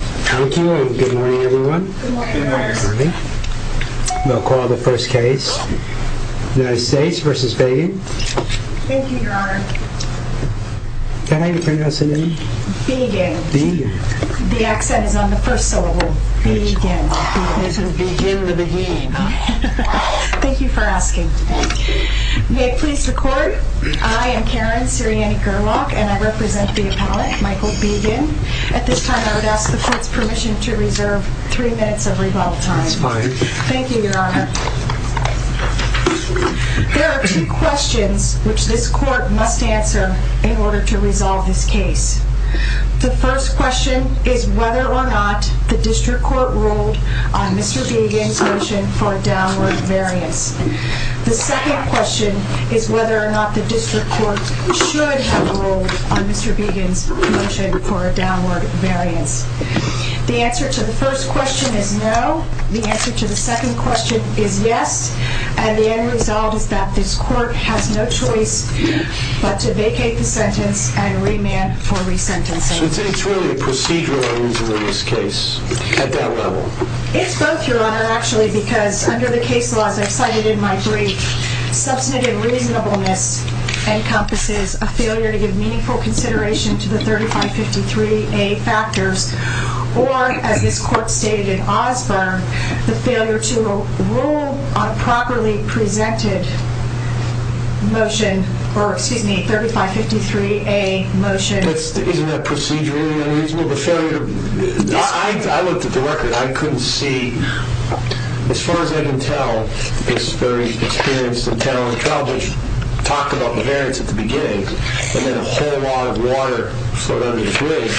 Thank you and good morning everyone. We'll call the first case. United States v. Begin. Thank you, your honor. Can I even pronounce the name? Begin. The accent is on the first syllable. Begin. Begin the beginning. Thank you for asking. May I please record? I am Karen Sirianni-Gurlock and I represent the appellate, Michael Begin. At this time I would ask the court's permission to reserve three minutes of rebuttal time. That's fine. Thank you, your honor. There are two questions which this court must answer in order to resolve this case. The first question is whether or not the district court ruled on Mr. Begin's motion for a downward variance. The second question is whether or not the district court should have ruled on Mr. Begin's motion for a downward variance. The answer to the first question is no. The answer to the second question is yes. And the end result is that this court has no choice but to vacate the sentence and remand for resentencing. So it's really a procedural argument in this case at that level? It's both, your honor, actually, because under the case laws I cited in my brief, substantive reasonableness encompasses a failure to give meaningful consideration to the 3553A factors or, as this court stated in Osborne, the failure to rule on a properly presented motion or, excuse me, 3553A motion. Isn't that procedurally unreasonable? I looked at the record. I couldn't see, as far as I can tell, this very experienced and talented trial judge talk about the variance at the beginning and then a whole lot of water flowed under the bridge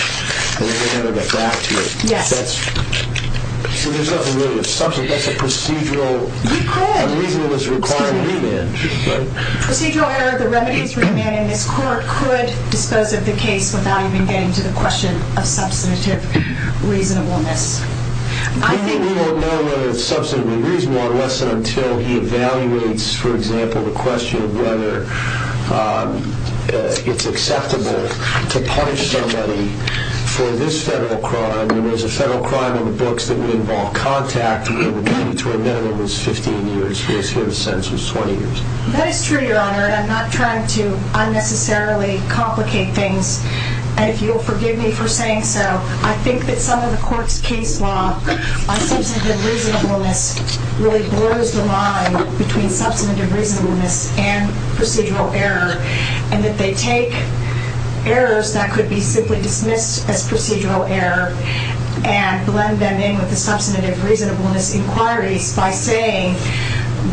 and they never got back to it. Yes. So there's nothing really of substance. That's a procedural reasonableness requirement. Procedural error, the remedy is remand, and this court could dispose of the case without even getting to the question of substantive reasonableness. I think we won't know whether it's substantively reasonable unless and until he evaluates, for example, the question of whether it's acceptable to punish somebody for this federal crime. I mean, there's a federal crime in the books that would involve contact, and the remedy to a minimum is 15 years. Here, the sentence was 20 years. That is true, Your Honor, and I'm not trying to unnecessarily complicate things, and if you'll forgive me for saying so, I think that some of the court's case law on substantive reasonableness really blurs the line between substantive reasonableness and procedural error and that they take errors that could be simply dismissed as procedural error and blend them in with the substantive reasonableness inquiries by saying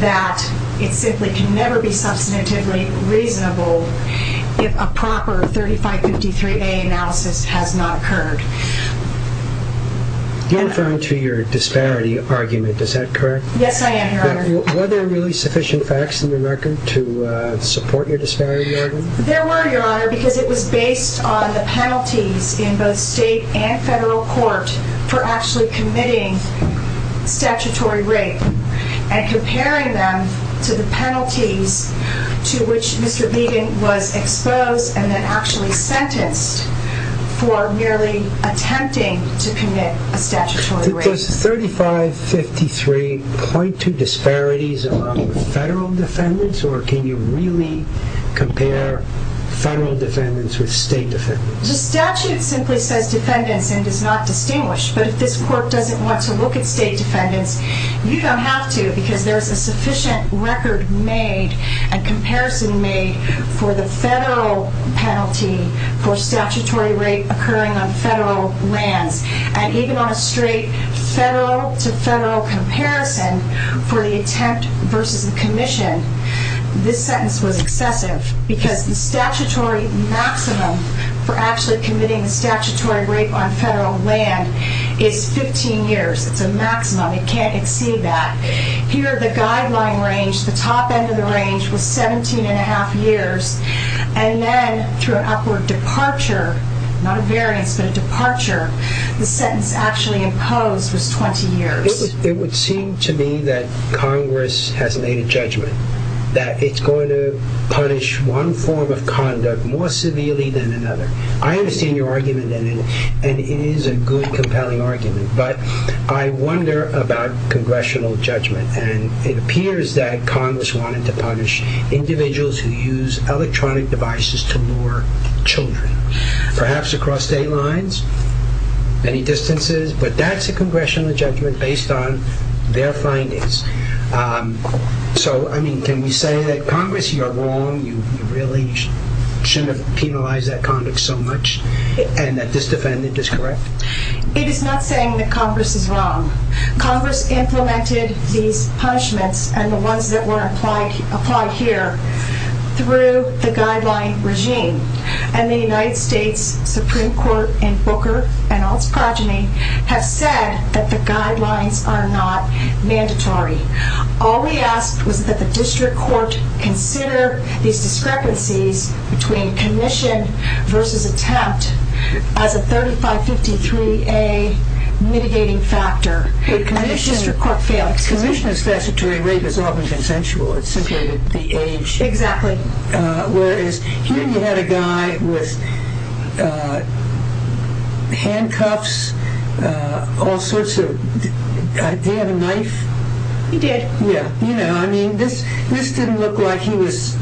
that it simply can never be substantively reasonable if a proper 3553A analysis has not occurred. You're referring to your disparity argument. Is that correct? Were there really sufficient facts in the record to support your disparity argument? There were, Your Honor, because it was based on the penalties in both state and federal court for actually committing statutory rape and comparing them to the penalties to which Mr. Biegun was exposed and then actually sentenced for merely attempting to commit a statutory rape. Does 3553 point to disparities among federal defendants, or can you really compare federal defendants with state defendants? The statute simply says defendants and does not distinguish, but if this court doesn't want to look at state defendants, you don't have to because there's a sufficient record made and comparison made for the federal penalty for statutory rape occurring on federal lands, and even on a straight federal to federal comparison for the attempt versus the commission, this sentence was excessive because the statutory maximum for actually committing a statutory rape on federal land is 15 years. It's a maximum. It can't exceed that. Here, the guideline range, the top end of the range was 17 and a half years, and then through an upward departure, not a variance, but a departure, the sentence actually imposed was 20 years. It would seem to me that Congress has made a judgment that it's going to punish one form of conduct more severely than another. I understand your argument, and it is a good, compelling argument, but I wonder about congressional judgment, and it appears that Congress wanted to punish individuals who use electronic devices to lure children, perhaps across state lines, many distances, but that's a congressional judgment based on their findings. Can we say that Congress, you're wrong, you really shouldn't have penalized that conduct so much, and that this defendant is correct? It is not saying that Congress is wrong. Congress implemented these punishments and the ones that were applied here through the guideline regime, and the United States Supreme Court in Booker and all its progeny have said that the guidelines are not mandatory. All we asked was that the district court consider these discrepancies between commission versus attempt as a 3553A mitigating factor, and the district court failed. Commission is statutory rape is often consensual. It's simply the age. Exactly. Whereas here you had a guy with handcuffs, all sorts of, did he have a knife? He did. Yeah, you know, I mean, this didn't look like he was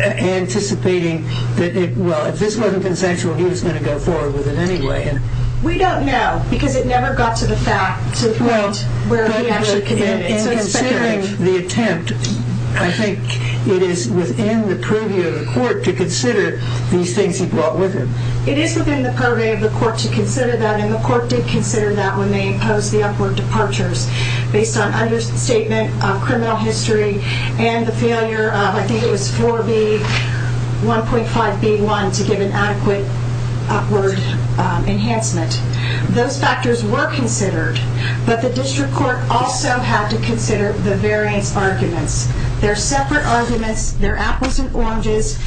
anticipating that, well, if this wasn't consensual, he was going to go forward with it anyway. We don't know, because it never got to the fact to the point where he ever committed. In considering the attempt, I think it is within the purview of the court to consider these things he brought with him. It is within the purview of the court to consider that, and the court did consider that when they imposed the upward departures, based on understatement of criminal history and the failure of, I think it was 4B, 1.5B1 to give an adequate upward enhancement. Those factors were considered, but the district court also had to consider the variance arguments. They're separate arguments. They're apples and oranges.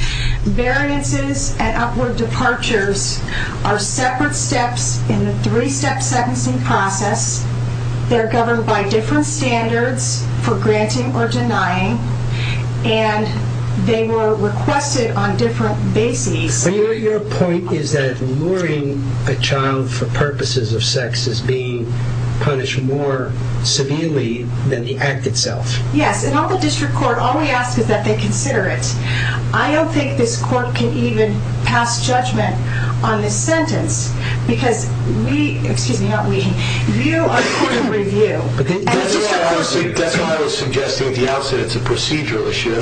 Variances and upward departures are separate steps in the three-step sentencing process. They're governed by different standards for granting or denying, and they were requested on different bases. Your point is that luring a child for purposes of sex is being punished more severely than the act itself. Yes, and all the district court, all we ask is that they consider it. I don't think this court can even pass judgment on this sentence, because we, excuse me, you are court of review. That's what I was suggesting at the outset. It's a procedural issue.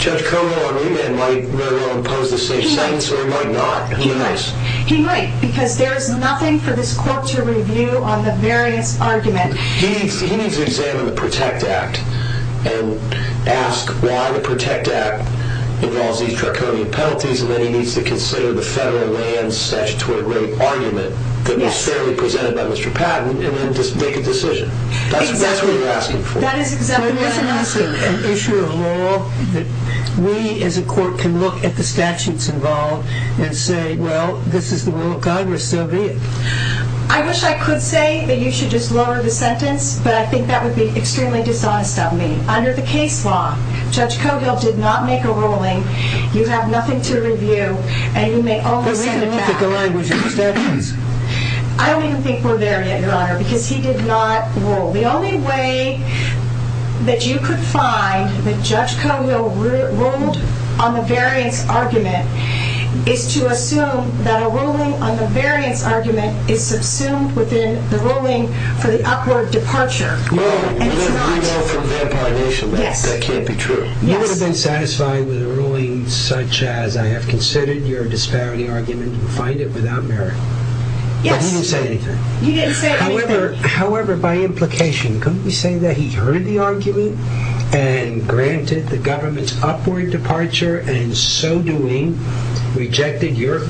Judge Koval on remand might very well impose the same sentence, or he might not. He might, because there is nothing for this court to review on the variance argument. He needs to examine the PROTECT Act and ask why the PROTECT Act involves these draconian penalties, and then he needs to consider the federal land statutory rate argument that was fairly presented by Mr. Patton, and then make a decision. That's what you're asking for. An issue of law that we as a court can look at the statutes involved and say, well, this is the will of Congress, so be it. I wish I could say that you should just lower the sentence, but I think that would be extremely dishonest of me. Under the case law, Judge Koval did not make a ruling. You have nothing to review, and you may only set it back. But we can look at the language of the statutes. I don't even think we're there yet, Your Honor, because he did not rule. The only way that you could find that Judge Koval ruled on the variance argument is to assume that a ruling on the variance argument is subsumed within the ruling for the upward departure, and it's not. We know from the Empire Nation that that can't be true. You would have been satisfied with a ruling such as, I have considered your disparity argument, and find it without merit. Yes. But he didn't say anything. He didn't say anything. However, by implication, couldn't we say that he heard the argument and granted the government's upward departure, and in so doing, rejected your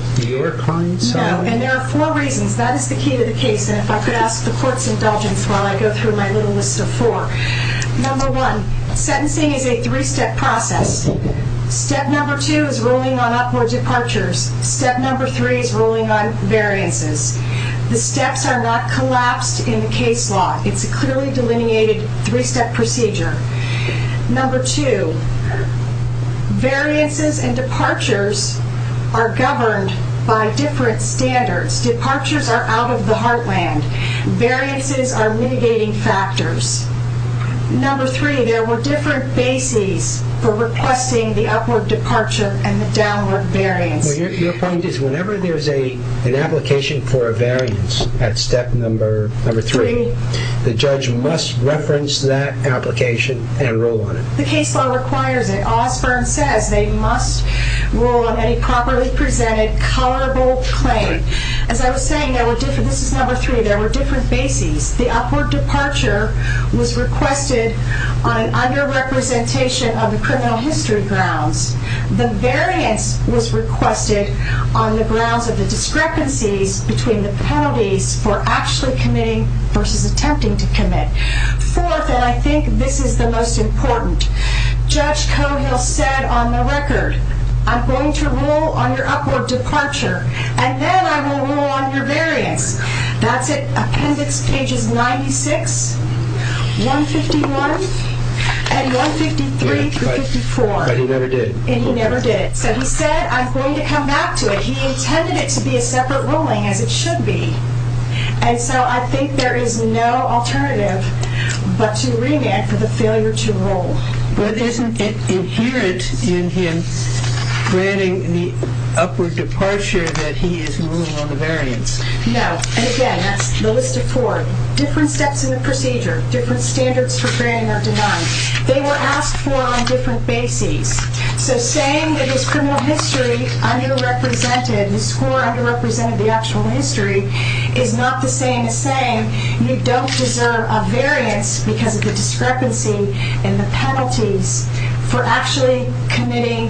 client's argument? No, and there are four reasons. That is the key to the case. And if I could ask the court's indulgence while I go through my little list of four. Number one, sentencing is a three-step process. Step number two is ruling on upward departures. Step number three is ruling on variances. The steps are not collapsed in the case law. It's a clearly delineated three-step procedure. Number two, variances and departures are governed by different standards. Departures are out of the heartland. Variances are mitigating factors. Number three, there were different bases for requesting the upward departure and the downward variance. Your point is whenever there's an application for a variance at step number three, the judge must reference that application and rule on it. The case law requires it. Osborne says they must rule on any properly presented, colorable claim. As I was saying, this is number three, there were different bases. The upward departure was requested on an under-representation of the criminal history grounds. The variance was requested on the grounds of the discrepancies between the penalties for actually committing versus attempting to commit. Fourth, and I think this is the most important, Judge Cohill said on the record, I'm going to rule on your upward departure, and then I will rule on your variance. That's it. Appendix pages 96, 151, and 153 through 54. But he never did. And he never did. So he said, I'm going to come back to it. He intended it to be a separate ruling, as it should be. And so I think there is no alternative but to remand for the failure to rule. But isn't it inherent in him granting the upward departure that he is ruling on the variance? No. And again, that's the list of four. Different steps in the procedure, different standards for granting are denied. They were asked for on different bases. So saying that his criminal history under-represented, his score under-represented the actual history, is not the same as saying you don't deserve a variance because of the discrepancy in the penalties for actually committing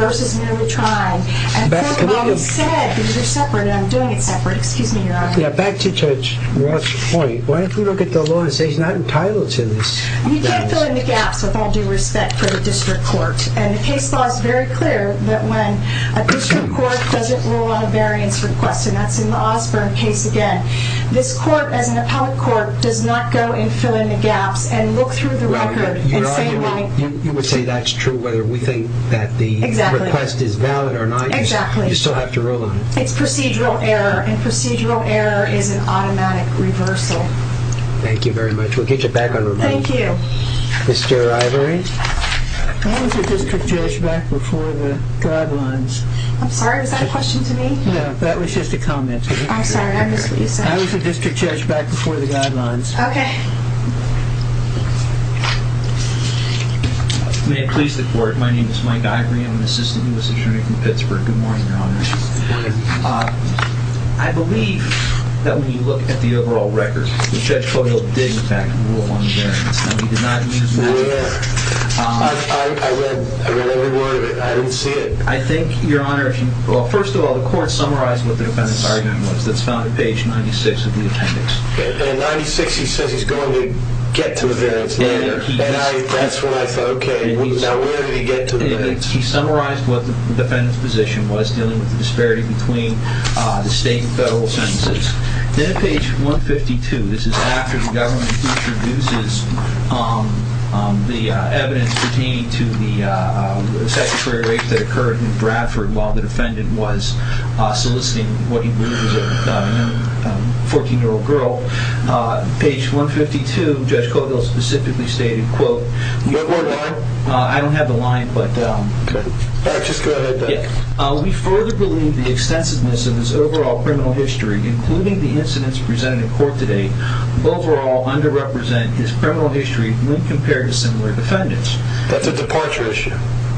versus merely trying. And think about what he said, because you're separate, and I'm doing it separate. Excuse me, Your Honor. Yeah, back to Judge Roth's point. Why don't you look at the law and say he's not entitled to this? You can't fill in the gaps, with all due respect, for the district court. And the case law is very clear that when a district court doesn't rule on a variance request, and that's in the Osborne case again, this court, as an appellate court, does not go and fill in the gaps and look through the record and say, Your Honor, you would say that's true whether we think that the request is valid or not. Exactly. You still have to rule on it. It's procedural error, and procedural error is an automatic reversal. Thank you very much. We'll get you back on review. Thank you. Mr. Ivory. I was a district judge back before the guidelines. I'm sorry, was that a question to me? No, that was just a comment. I'm sorry, I missed what you said. I was a district judge back before the guidelines. Okay. May it please the court, my name is Mike Ivory. I'm an assistant U.S. attorney from Pittsburgh. Good morning, Your Honor. Good morning. I believe that when you look at the overall record, Judge Coyle did, in fact, rule on the variance. Now, he did not use magic. I read every word of it. I didn't see it. I think, Your Honor, first of all, the court summarized what the defendant's argument was. That's found on page 96 of the appendix. And in 96 he says he's going to get to a variance later. He summarized what the defendant's position was, dealing with the disparity between the state and federal sentences. Then on page 152, this is after the government introduces the evidence pertaining to the statutory rape that occurred in Bradford while the defendant was soliciting what he believed was a 14-year-old girl. Page 152, Judge Coyle specifically stated, quote, I don't have the line, but... All right, just go ahead, Doug. We further believe the extensiveness of his overall criminal history, including the incidents presented in court today, overall underrepresent his criminal history when compared to similar defendants. That's a departure issue.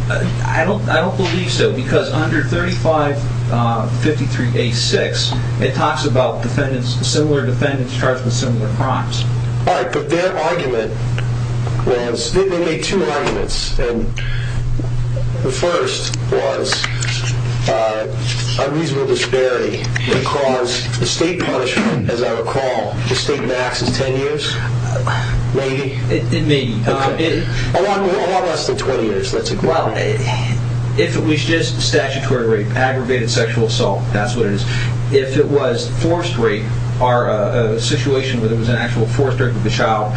I don't believe so because under 3553A6, it talks about similar defendants charged with similar crimes. All right, but their argument was... They made two arguments, and the first was unreasonable disparity that caused the state punishment, as I recall. The state max is 10 years? Maybe? It may be. A lot less than 20 years, let's agree. Well, if it was just statutory rape, aggravated sexual assault, that's what it is. If it was forced rape or a situation where there was an actual forced rape of the child,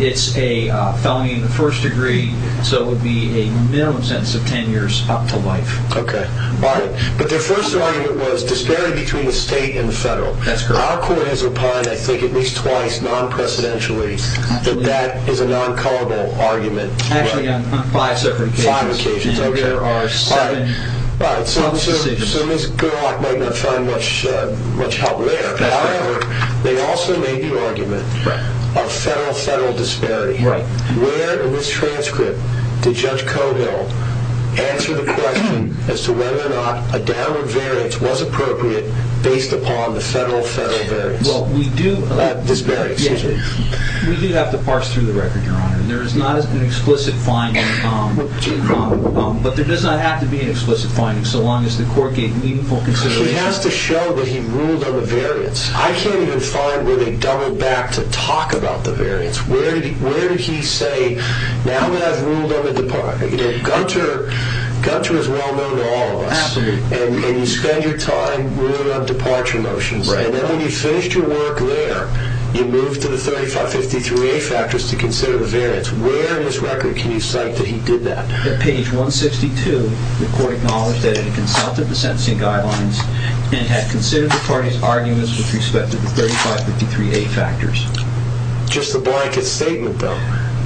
it's a felony in the first degree, so it would be a minimum sentence of 10 years up to life. Okay, all right. But their first argument was disparity between the state and the federal. That's correct. Our court has opined, I think at least twice, non-precedentially, that that is a non-culpable argument. Actually, on five separate occasions. Five occasions, okay. And there are seven public decisions. All right, so Ms. Gerlach might not find much help there. However, they also made the argument of federal-federal disparity. Right. Where in this transcript did Judge Cogill answer the question as to whether or not a downward variance was appropriate based upon the federal-federal variance? Well, we do... Disparity, excuse me. We do have the parts through the record, Your Honor, and there is not an explicit finding, but there does not have to be an explicit finding so long as the court gave meaningful consideration. She has to show that he ruled on the variance. I can't even find where they doubled back to talk about the variance. Where did he say, now that I've ruled on the... Gunter is well-known to all of us. Absolutely. And you spend your time ruling on departure motions, and then when you've finished your work there, you move to the 3553A factors to consider the variance. Where in this record can you cite that he did that? At page 162, the court acknowledged that it had consulted the sentencing guidelines and had considered the parties' arguments with respect to the 3553A factors. Just the blanket statement, though.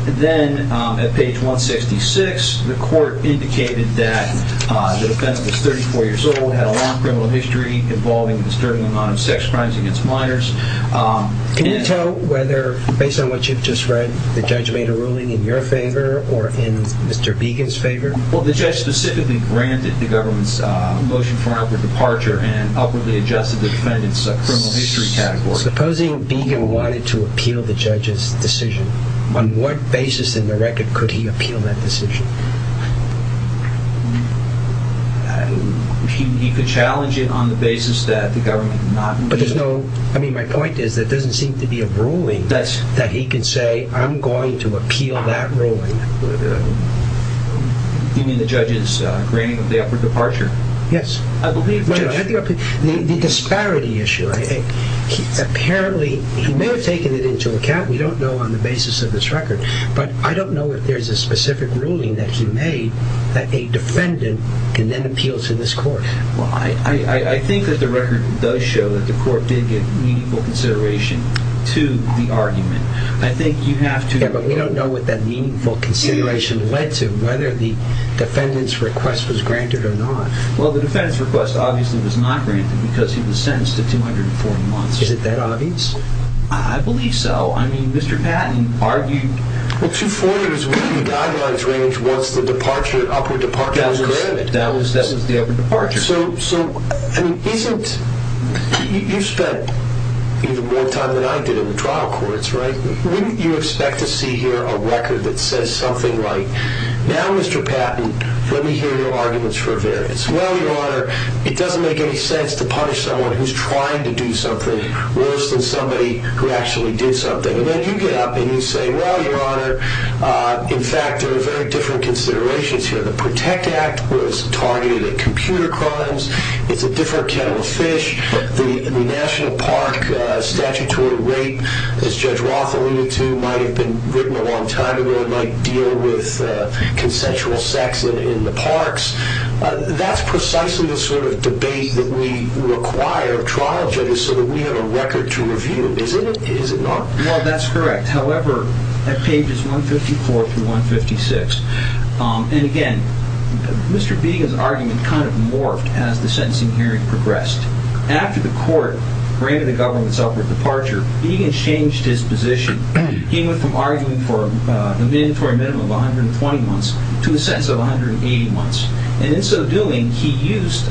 Then, at page 166, the court indicated that the defendant was 34 years old, had a long criminal history involving a disturbing amount of sex crimes against minors. Can you tell whether, based on what you've just read, the judge made a ruling in your favor or in Mr. Began's favor? Well, the judge specifically granted the government's motion for an upward departure and upwardly adjusted the defendant's criminal history category. Supposing Began wanted to appeal the judge's decision, on what basis in the record could he appeal that decision? He could challenge it on the basis that the government did not... But there's no... I mean, my point is that there doesn't seem to be a ruling that he could say, I'm going to appeal that ruling. You mean the judge's granting of the upward departure? Yes. I believe the judge... The disparity issue. Apparently, he may have taken it into account. We don't know on the basis of this record. But I don't know if there's a specific ruling that he made that a defendant can then appeal to this court. I think that the record does show that the court did give meaningful consideration to the argument. I think you have to... Yeah, but we don't know what that meaningful consideration led to, whether the defendant's request was granted or not. Well, the defendant's request obviously was not granted because he was sentenced to 240 months. Is it that obvious? I believe so. I mean, Mr. Patton argued... Well, 240 is within the guidelines range once the upward departure was granted. That was the upward departure. So, isn't... You've spent even more time than I did in the trial courts, right? Wouldn't you expect to see here a record that says something like, Now, Mr. Patton, let me hear your arguments for a variance. Well, Your Honor, it doesn't make any sense to punish someone who's trying to do something worse than somebody who actually did something. And then you get up and you say, Well, Your Honor, in fact, there are very different considerations here. The PROTECT Act was targeted at computer crimes. It's a different kettle of fish. The National Park statutory rape, as Judge Roth alluded to, might have been written a long time ago and might deal with consensual sex in the parks. That's precisely the sort of debate that we require of trial judges so that we have a record to review. Is it not? Well, that's correct. However, at pages 154 through 156, and again, Mr. Biegun's argument kind of morphed as the sentencing hearing progressed. After the court granted the government's upward departure, Biegun changed his position. He went from arguing for a mandatory minimum of 120 months to a sentence of 180 months. And in so doing, he used,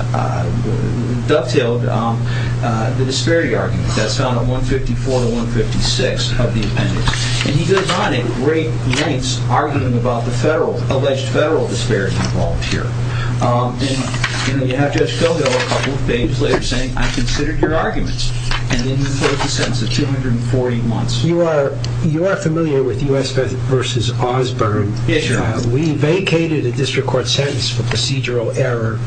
dovetailed the disparity argument that's found on 154 to 156 of the appendix. And he goes on at great lengths, arguing about the federal, alleged federal disparity involved here. And you have Judge Fildo a couple of pages later saying, I've considered your arguments. And in the court, the sentence of 240 months. You are familiar with U.S. v. Osborne. Yes, Your Honor. We vacated a district court sentence for procedural error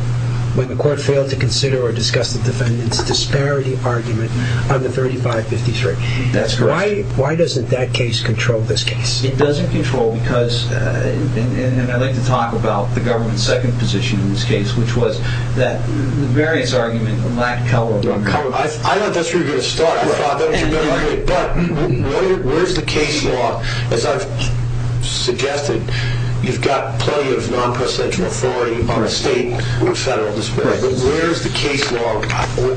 when the court failed to consider or discuss the defendant's disparity argument on the 3553. That's correct. Why doesn't that case control this case? It doesn't control because, and I'd like to talk about the government's second position in this case, which was that the various arguments lack color. I thought that's where you were going to start. I thought that was your better way. But where's the case law? As I've suggested, you've got plenty of non-presidential authority on the state with federal disparity. But where's the case law?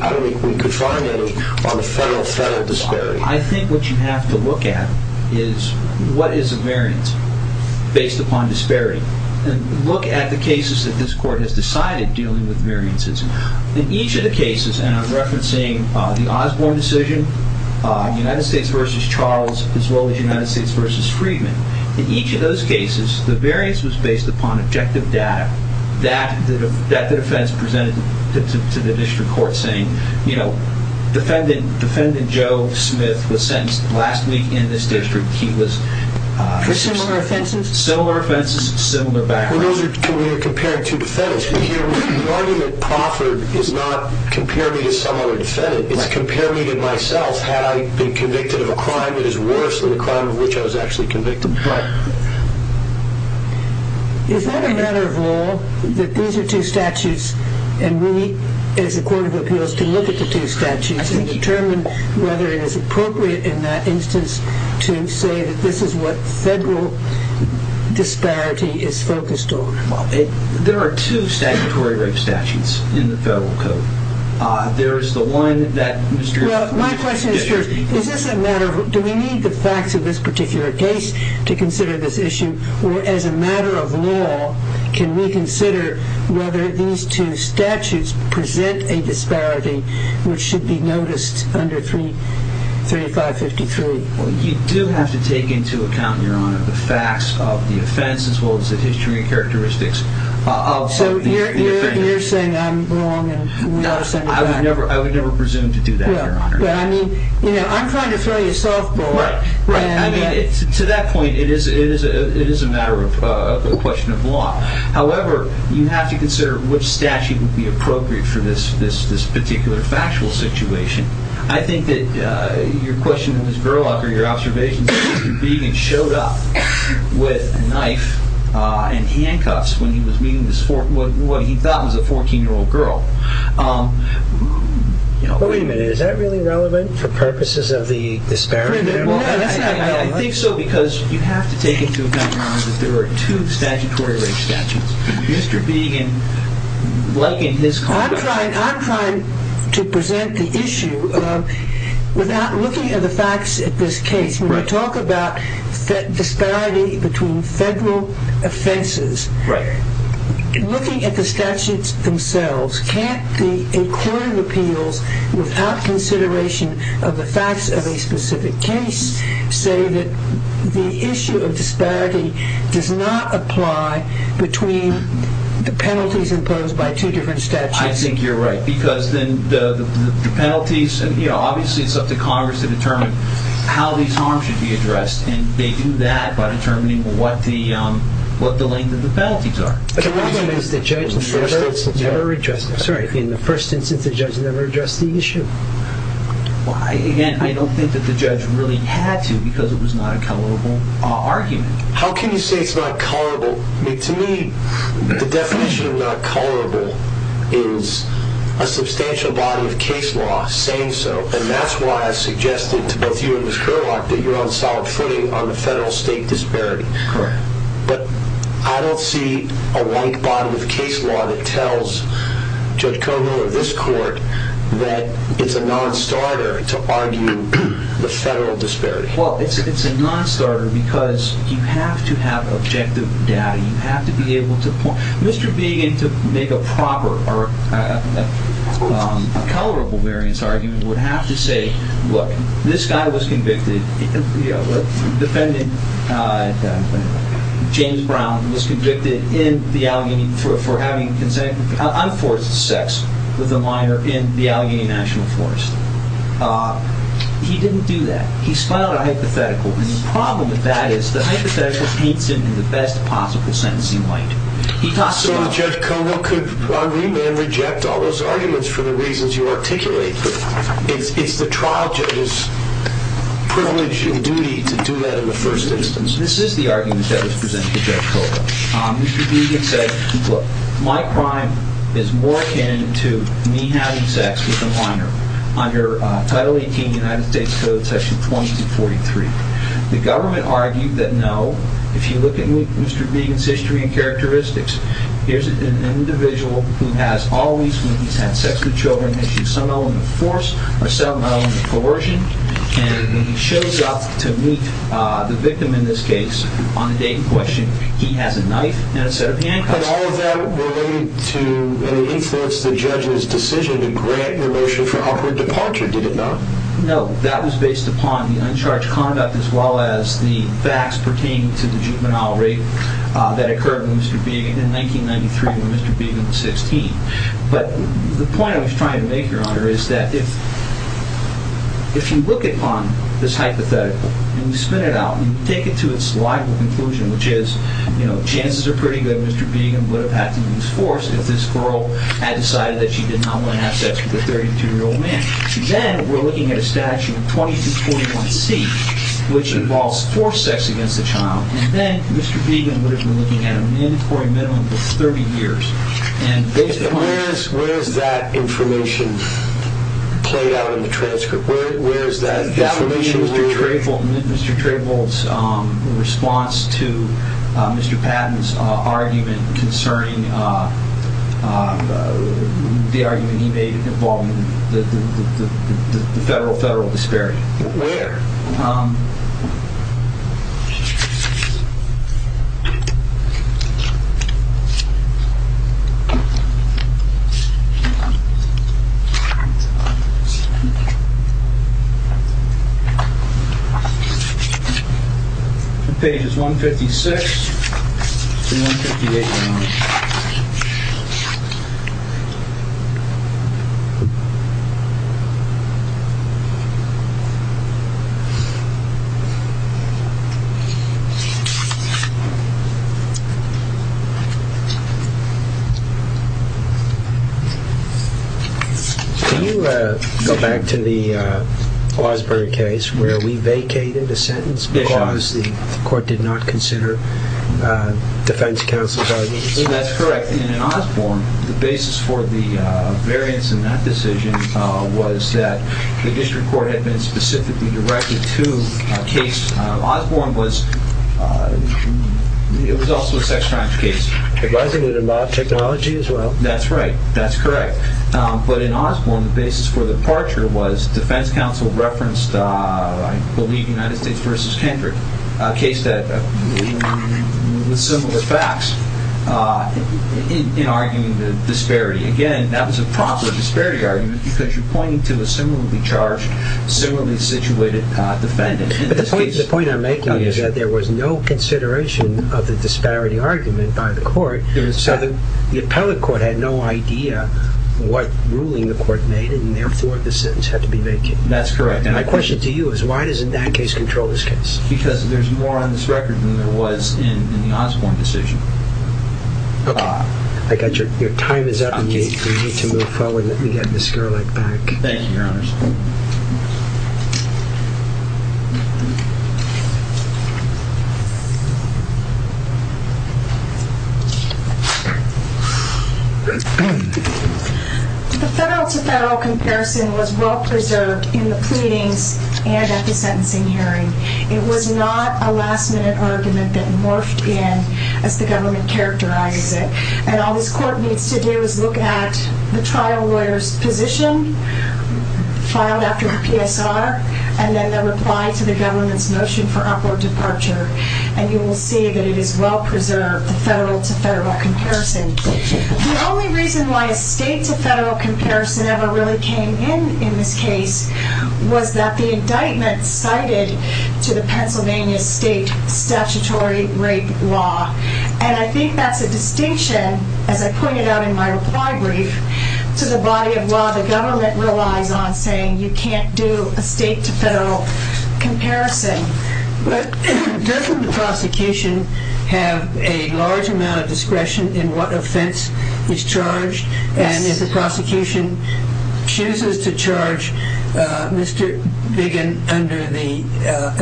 I don't think we could find any on the federal disparity. I think what you have to look at is what is a variance based upon disparity. Look at the cases that this court has decided dealing with variances. In each of the cases, and I'm referencing the Osborne decision, United States v. Charles, as well as United States v. Friedman, in each of those cases, the variance was based upon objective data that the defense presented to the district court saying, defendant Joe Smith was sentenced last week in this district. He was... For similar offenses? Similar offenses, similar background. We're comparing two defendants. The argument proffered is not compare me to some other defendant. It's compare me to myself. Had I been convicted of a crime that is worse than the crime of which I was actually convicted? Right. Is that a matter of law, that these are two statutes, and we, as a court of appeals, can look at the two statutes and determine whether it is appropriate in that instance to say that this is what federal disparity is focused on? There are two statutory rape statutes in the federal code. There is the one that... Well, my question is first, is this a matter of... Do we need the facts of this particular case to consider this issue, or as a matter of law, can we consider whether these two statutes present a disparity which should be noticed under 3553? Well, you do have to take into account, Your Honor, the facts of the offense as well as the history and characteristics of the offender. So you're saying I'm wrong and we ought to send you back? I would never presume to do that, Your Honor. Well, I mean, you know, I'm trying to throw you a softball. Right. I mean, to that point, it is a matter of question of law. However, you have to consider which statute would be appropriate for this particular factual situation. I think that your question of Ms. Gerlach or your observation of Mr. Biegan showed up with a knife and handcuffs when he was meeting what he thought was a 14-year-old girl. Wait a minute. Is that really relevant for purposes of the disparity? I think so because you have to take into account, Your Honor, that there are two statutory rape statutes. Mr. Biegan likened his... I'm trying to present the issue without looking at the facts of this case. When we talk about disparity between federal offenses, looking at the statutes themselves, can't a court of appeals without consideration of the facts of a specific case say that the issue of disparity does not apply between the penalties imposed by two different statutes? I think you're right because then the penalties... Obviously, it's up to Congress to determine how these harms should be addressed, and they do that by determining what the length of the penalties are. The problem is the judge in the first instance never addressed the issue. Again, I don't think that the judge really had to because it was not a colorable argument. How can you say it's not colorable? To me, the definition of not colorable is a substantial body of case law saying so, and that's why I suggested to both you and Ms. Kerlock that you're on solid footing on the federal-state disparity. Correct. But I don't see a white body of case law that tells Judge Koval of this court that it's a non-starter to argue the federal disparity. Well, it's a non-starter because you have to have objective data. You have to be able to point... Mr. Began, to make a proper or a colorable variance argument, would have to say, look, this guy was convicted. Defendant James Brown was convicted for having unforced sex with a minor in the Allegheny National Forest. He didn't do that. He filed a hypothetical, and the problem with that is the hypothetical paints him in the best possible sentence he might. So Judge Koval could agree and reject all those arguments for the reasons you articulate, but it's the trial judge's privilege and duty to do that in the first instance. This is the argument that was presented to Judge Koval. Mr. Began said, look, my crime is more akin to me having sex with a minor under Title 18 United States Code, Section 2243. The government argued that no. If you look at Mr. Began's history and characteristics, here's an individual who has always, when he's had sex with children, has used some element of force or some element of coercion, and when he shows up to meet the victim in this case, on the day in question, he has a knife and a set of handcuffs. But all of that were made to influence the judge's decision to grant the motion for operative departure, did it not? No, that was based upon the uncharged conduct as well as the facts pertaining to the juvenile rape that occurred with Mr. Began in 1993 when Mr. Began was 16. But the point I was trying to make, Your Honor, is that if you look upon this hypothetical and you spin it out and you take it to its logical conclusion, which is chances are pretty good Mr. Began would have had to use force if this girl had decided that she did not want to have sex with a 32-year-old man. Then we're looking at a statute, 2241C, which involves forced sex against a child, and then Mr. Began would have been looking at a mandatory minimum of 30 years. And where is that information played out in the transcript? Where is that information? In Mr. Trayvill's response to Mr. Patton's argument concerning the argument he made involving the federal disparity. Where? Pages 156 to 158, Your Honor. Can you go back to the Osborne case where we vacated a sentence because the court did not consider defense counsel's arguments? That's correct. In Osborne, the basis for the variance in that decision was that the district court had been specifically directed to a case. Osborne was, it was also a sex crimes case. It was, and it involved technology as well. That's right. That's correct. But in Osborne, the basis for the departure was defense counsel referenced, I believe, United States v. Kendrick, a case that, with similar facts, in arguing the disparity. Again, that was a proper disparity argument because you're pointing to a similarly charged, similarly situated defendant. But the point I'm making is that there was no consideration of the disparity argument by the court, so the appellate court had no idea what ruling the court made, and therefore the sentence had to be vacated. That's correct. And my question to you is why doesn't that case control this case? Because there's more on this record than there was in the Osborne decision. Okay. I got your, your time is up. We need to move forward. Let me get Ms. Gerlich back. Thank you, Your Honor. The federal-to-federal comparison was well preserved in the pleadings and at the sentencing hearing. It was not a last-minute argument that morphed in as the government characterized it, and all this court needs to do is look at the trial lawyer's position filed after the PSR and then the reply to the government's motion for upward departure, and you will see that it is well preserved, the federal-to-federal comparison. The only reason why a state-to-federal comparison ever really came in in this case was that the indictment cited to the Pennsylvania state statutory rape law, and I think that's a distinction, as I pointed out in my reply brief, to the body of law the government relies on saying you can't do a state-to-federal comparison. But doesn't the prosecution have a large amount of discretion in what offense he's charged? Yes. And if the prosecution chooses to charge Mr. Biggin under the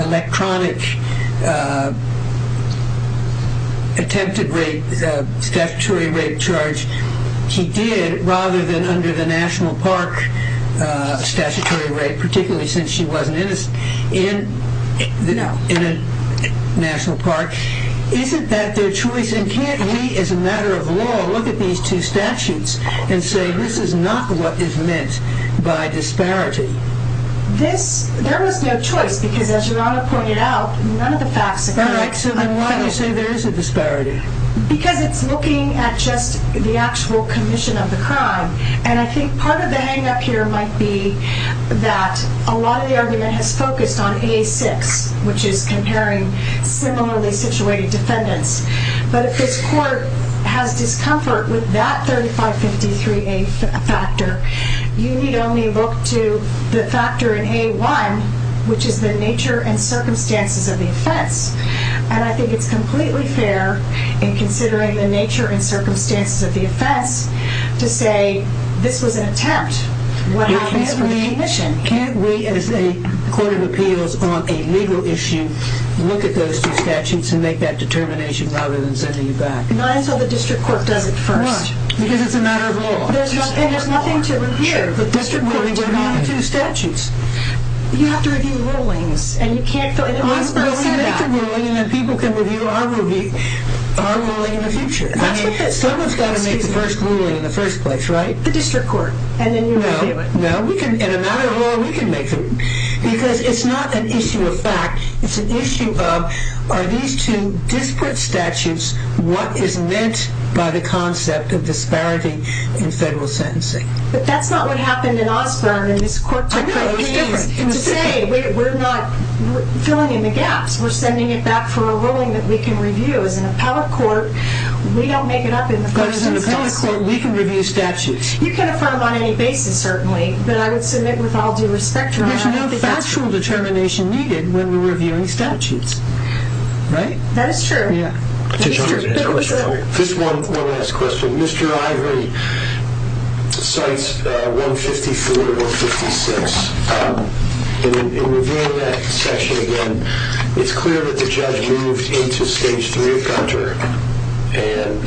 electronic attempted rape, he did, rather than under the national park statutory rape, particularly since she wasn't in a national park, isn't that their choice? And can't we, as a matter of law, look at these two statutes and say this is not what is meant by disparity? There was no choice because, as your Honor pointed out, none of the facts are correct. So then why do you say there is a disparity? Because it's looking at just the actual commission of the crime. And I think part of the hang-up here might be that a lot of the argument has focused on A6, which is comparing similarly situated defendants. But if this court has discomfort with that 3553A factor, you need only look to the factor in A1, which is the nature and circumstances of the offense, and I think it's completely fair, in considering the nature and circumstances of the offense, to say this was an attempt. Can't we, as a court of appeals on a legal issue, look at those two statutes and make that determination rather than sending you back? Not until the district court does it first. Why? Because it's a matter of law. And there's nothing to review. The district court needs to review the two statutes. You have to review rulings. People can review our ruling in the future. Someone's got to make the first ruling in the first place, right? The district court. No. In a matter of law, we can make them. Because it's not an issue of fact. It's an issue of, are these two disparate statutes what is meant by the concept of disparity in federal sentencing? But that's not what happened in Osborne. I know, it's different. To say we're not filling in the gaps, we're sending it back for a ruling that we can review. As an appellate court, we don't make it up in the first instance. But as an appellate court, we can review statutes. You can affirm on any basis, certainly. But I would submit with all due respect, your Honor, I think that's true. There's no factual determination needed when we're reviewing statutes, right? That is true. Yeah. Mr. Ivory. Just one last question. Mr. Ivory cites 154 and 156. In reviewing that section again, it's clear that the judge moved into Stage 3 of Gunter and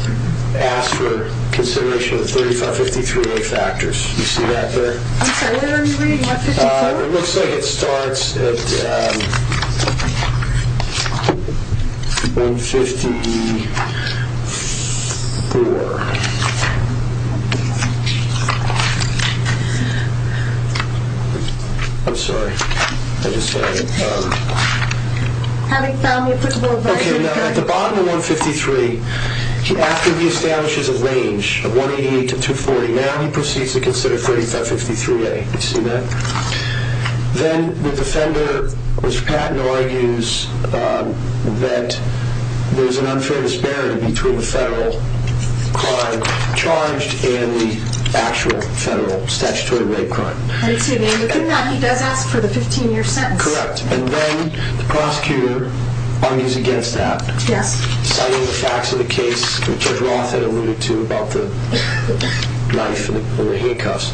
asked for consideration of the 553A factors. You see that there? I'm sorry, what are you reading, 154? It looks like it starts at 154. I'm sorry. I just had it. Okay, now at the bottom of 153, after he establishes a range of 188 to 240, now he proceeds to consider 553A. You see that? Then the defender, Mr. Patton, argues that there's an unfair disparity between the federal crime charged and the actual federal statutory rape crime. I see. And within that, he does ask for the 15-year sentence. Correct. And then the prosecutor argues against that. Yes. Citing the facts of the case that Judge Roth had alluded to about the knife and the handcuffs.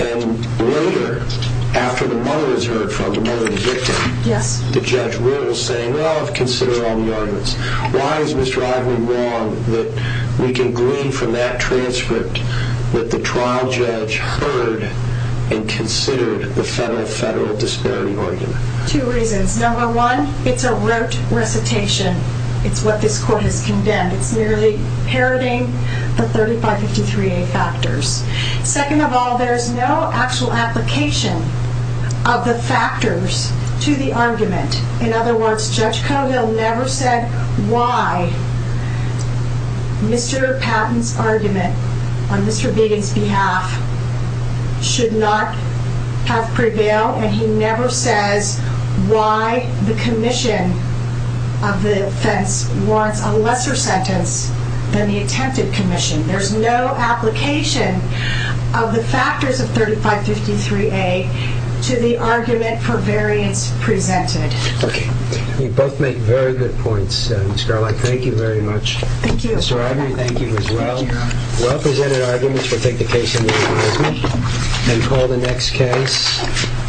And later, after the mother was heard from, the mother of the victim, the judge rules saying, well, consider all the arguments. Why is Mr. Ivory wrong that we can glean from that transcript that the trial judge heard and considered the federal disparity argument? Two reasons. Number one, it's a rote recitation. It's what this court has condemned. It's merely parroting the 3553A factors. Second of all, there's no actual application of the factors to the argument. In other words, Judge Cogill never said why Mr. Patton's argument on Mr. Beatty's behalf should not have prevailed. And he never says why the commission of the offense warrants a lesser sentence than the attempted commission. There's no application of the factors of 3553A to the argument for variance presented. Okay. You both make very good points, Ms. Garlick. Thank you very much. Thank you. Mr. Ivory, thank you as well. Thank you, Your Honor. Well-presented arguments. We'll take the case in the advisement and call the next case.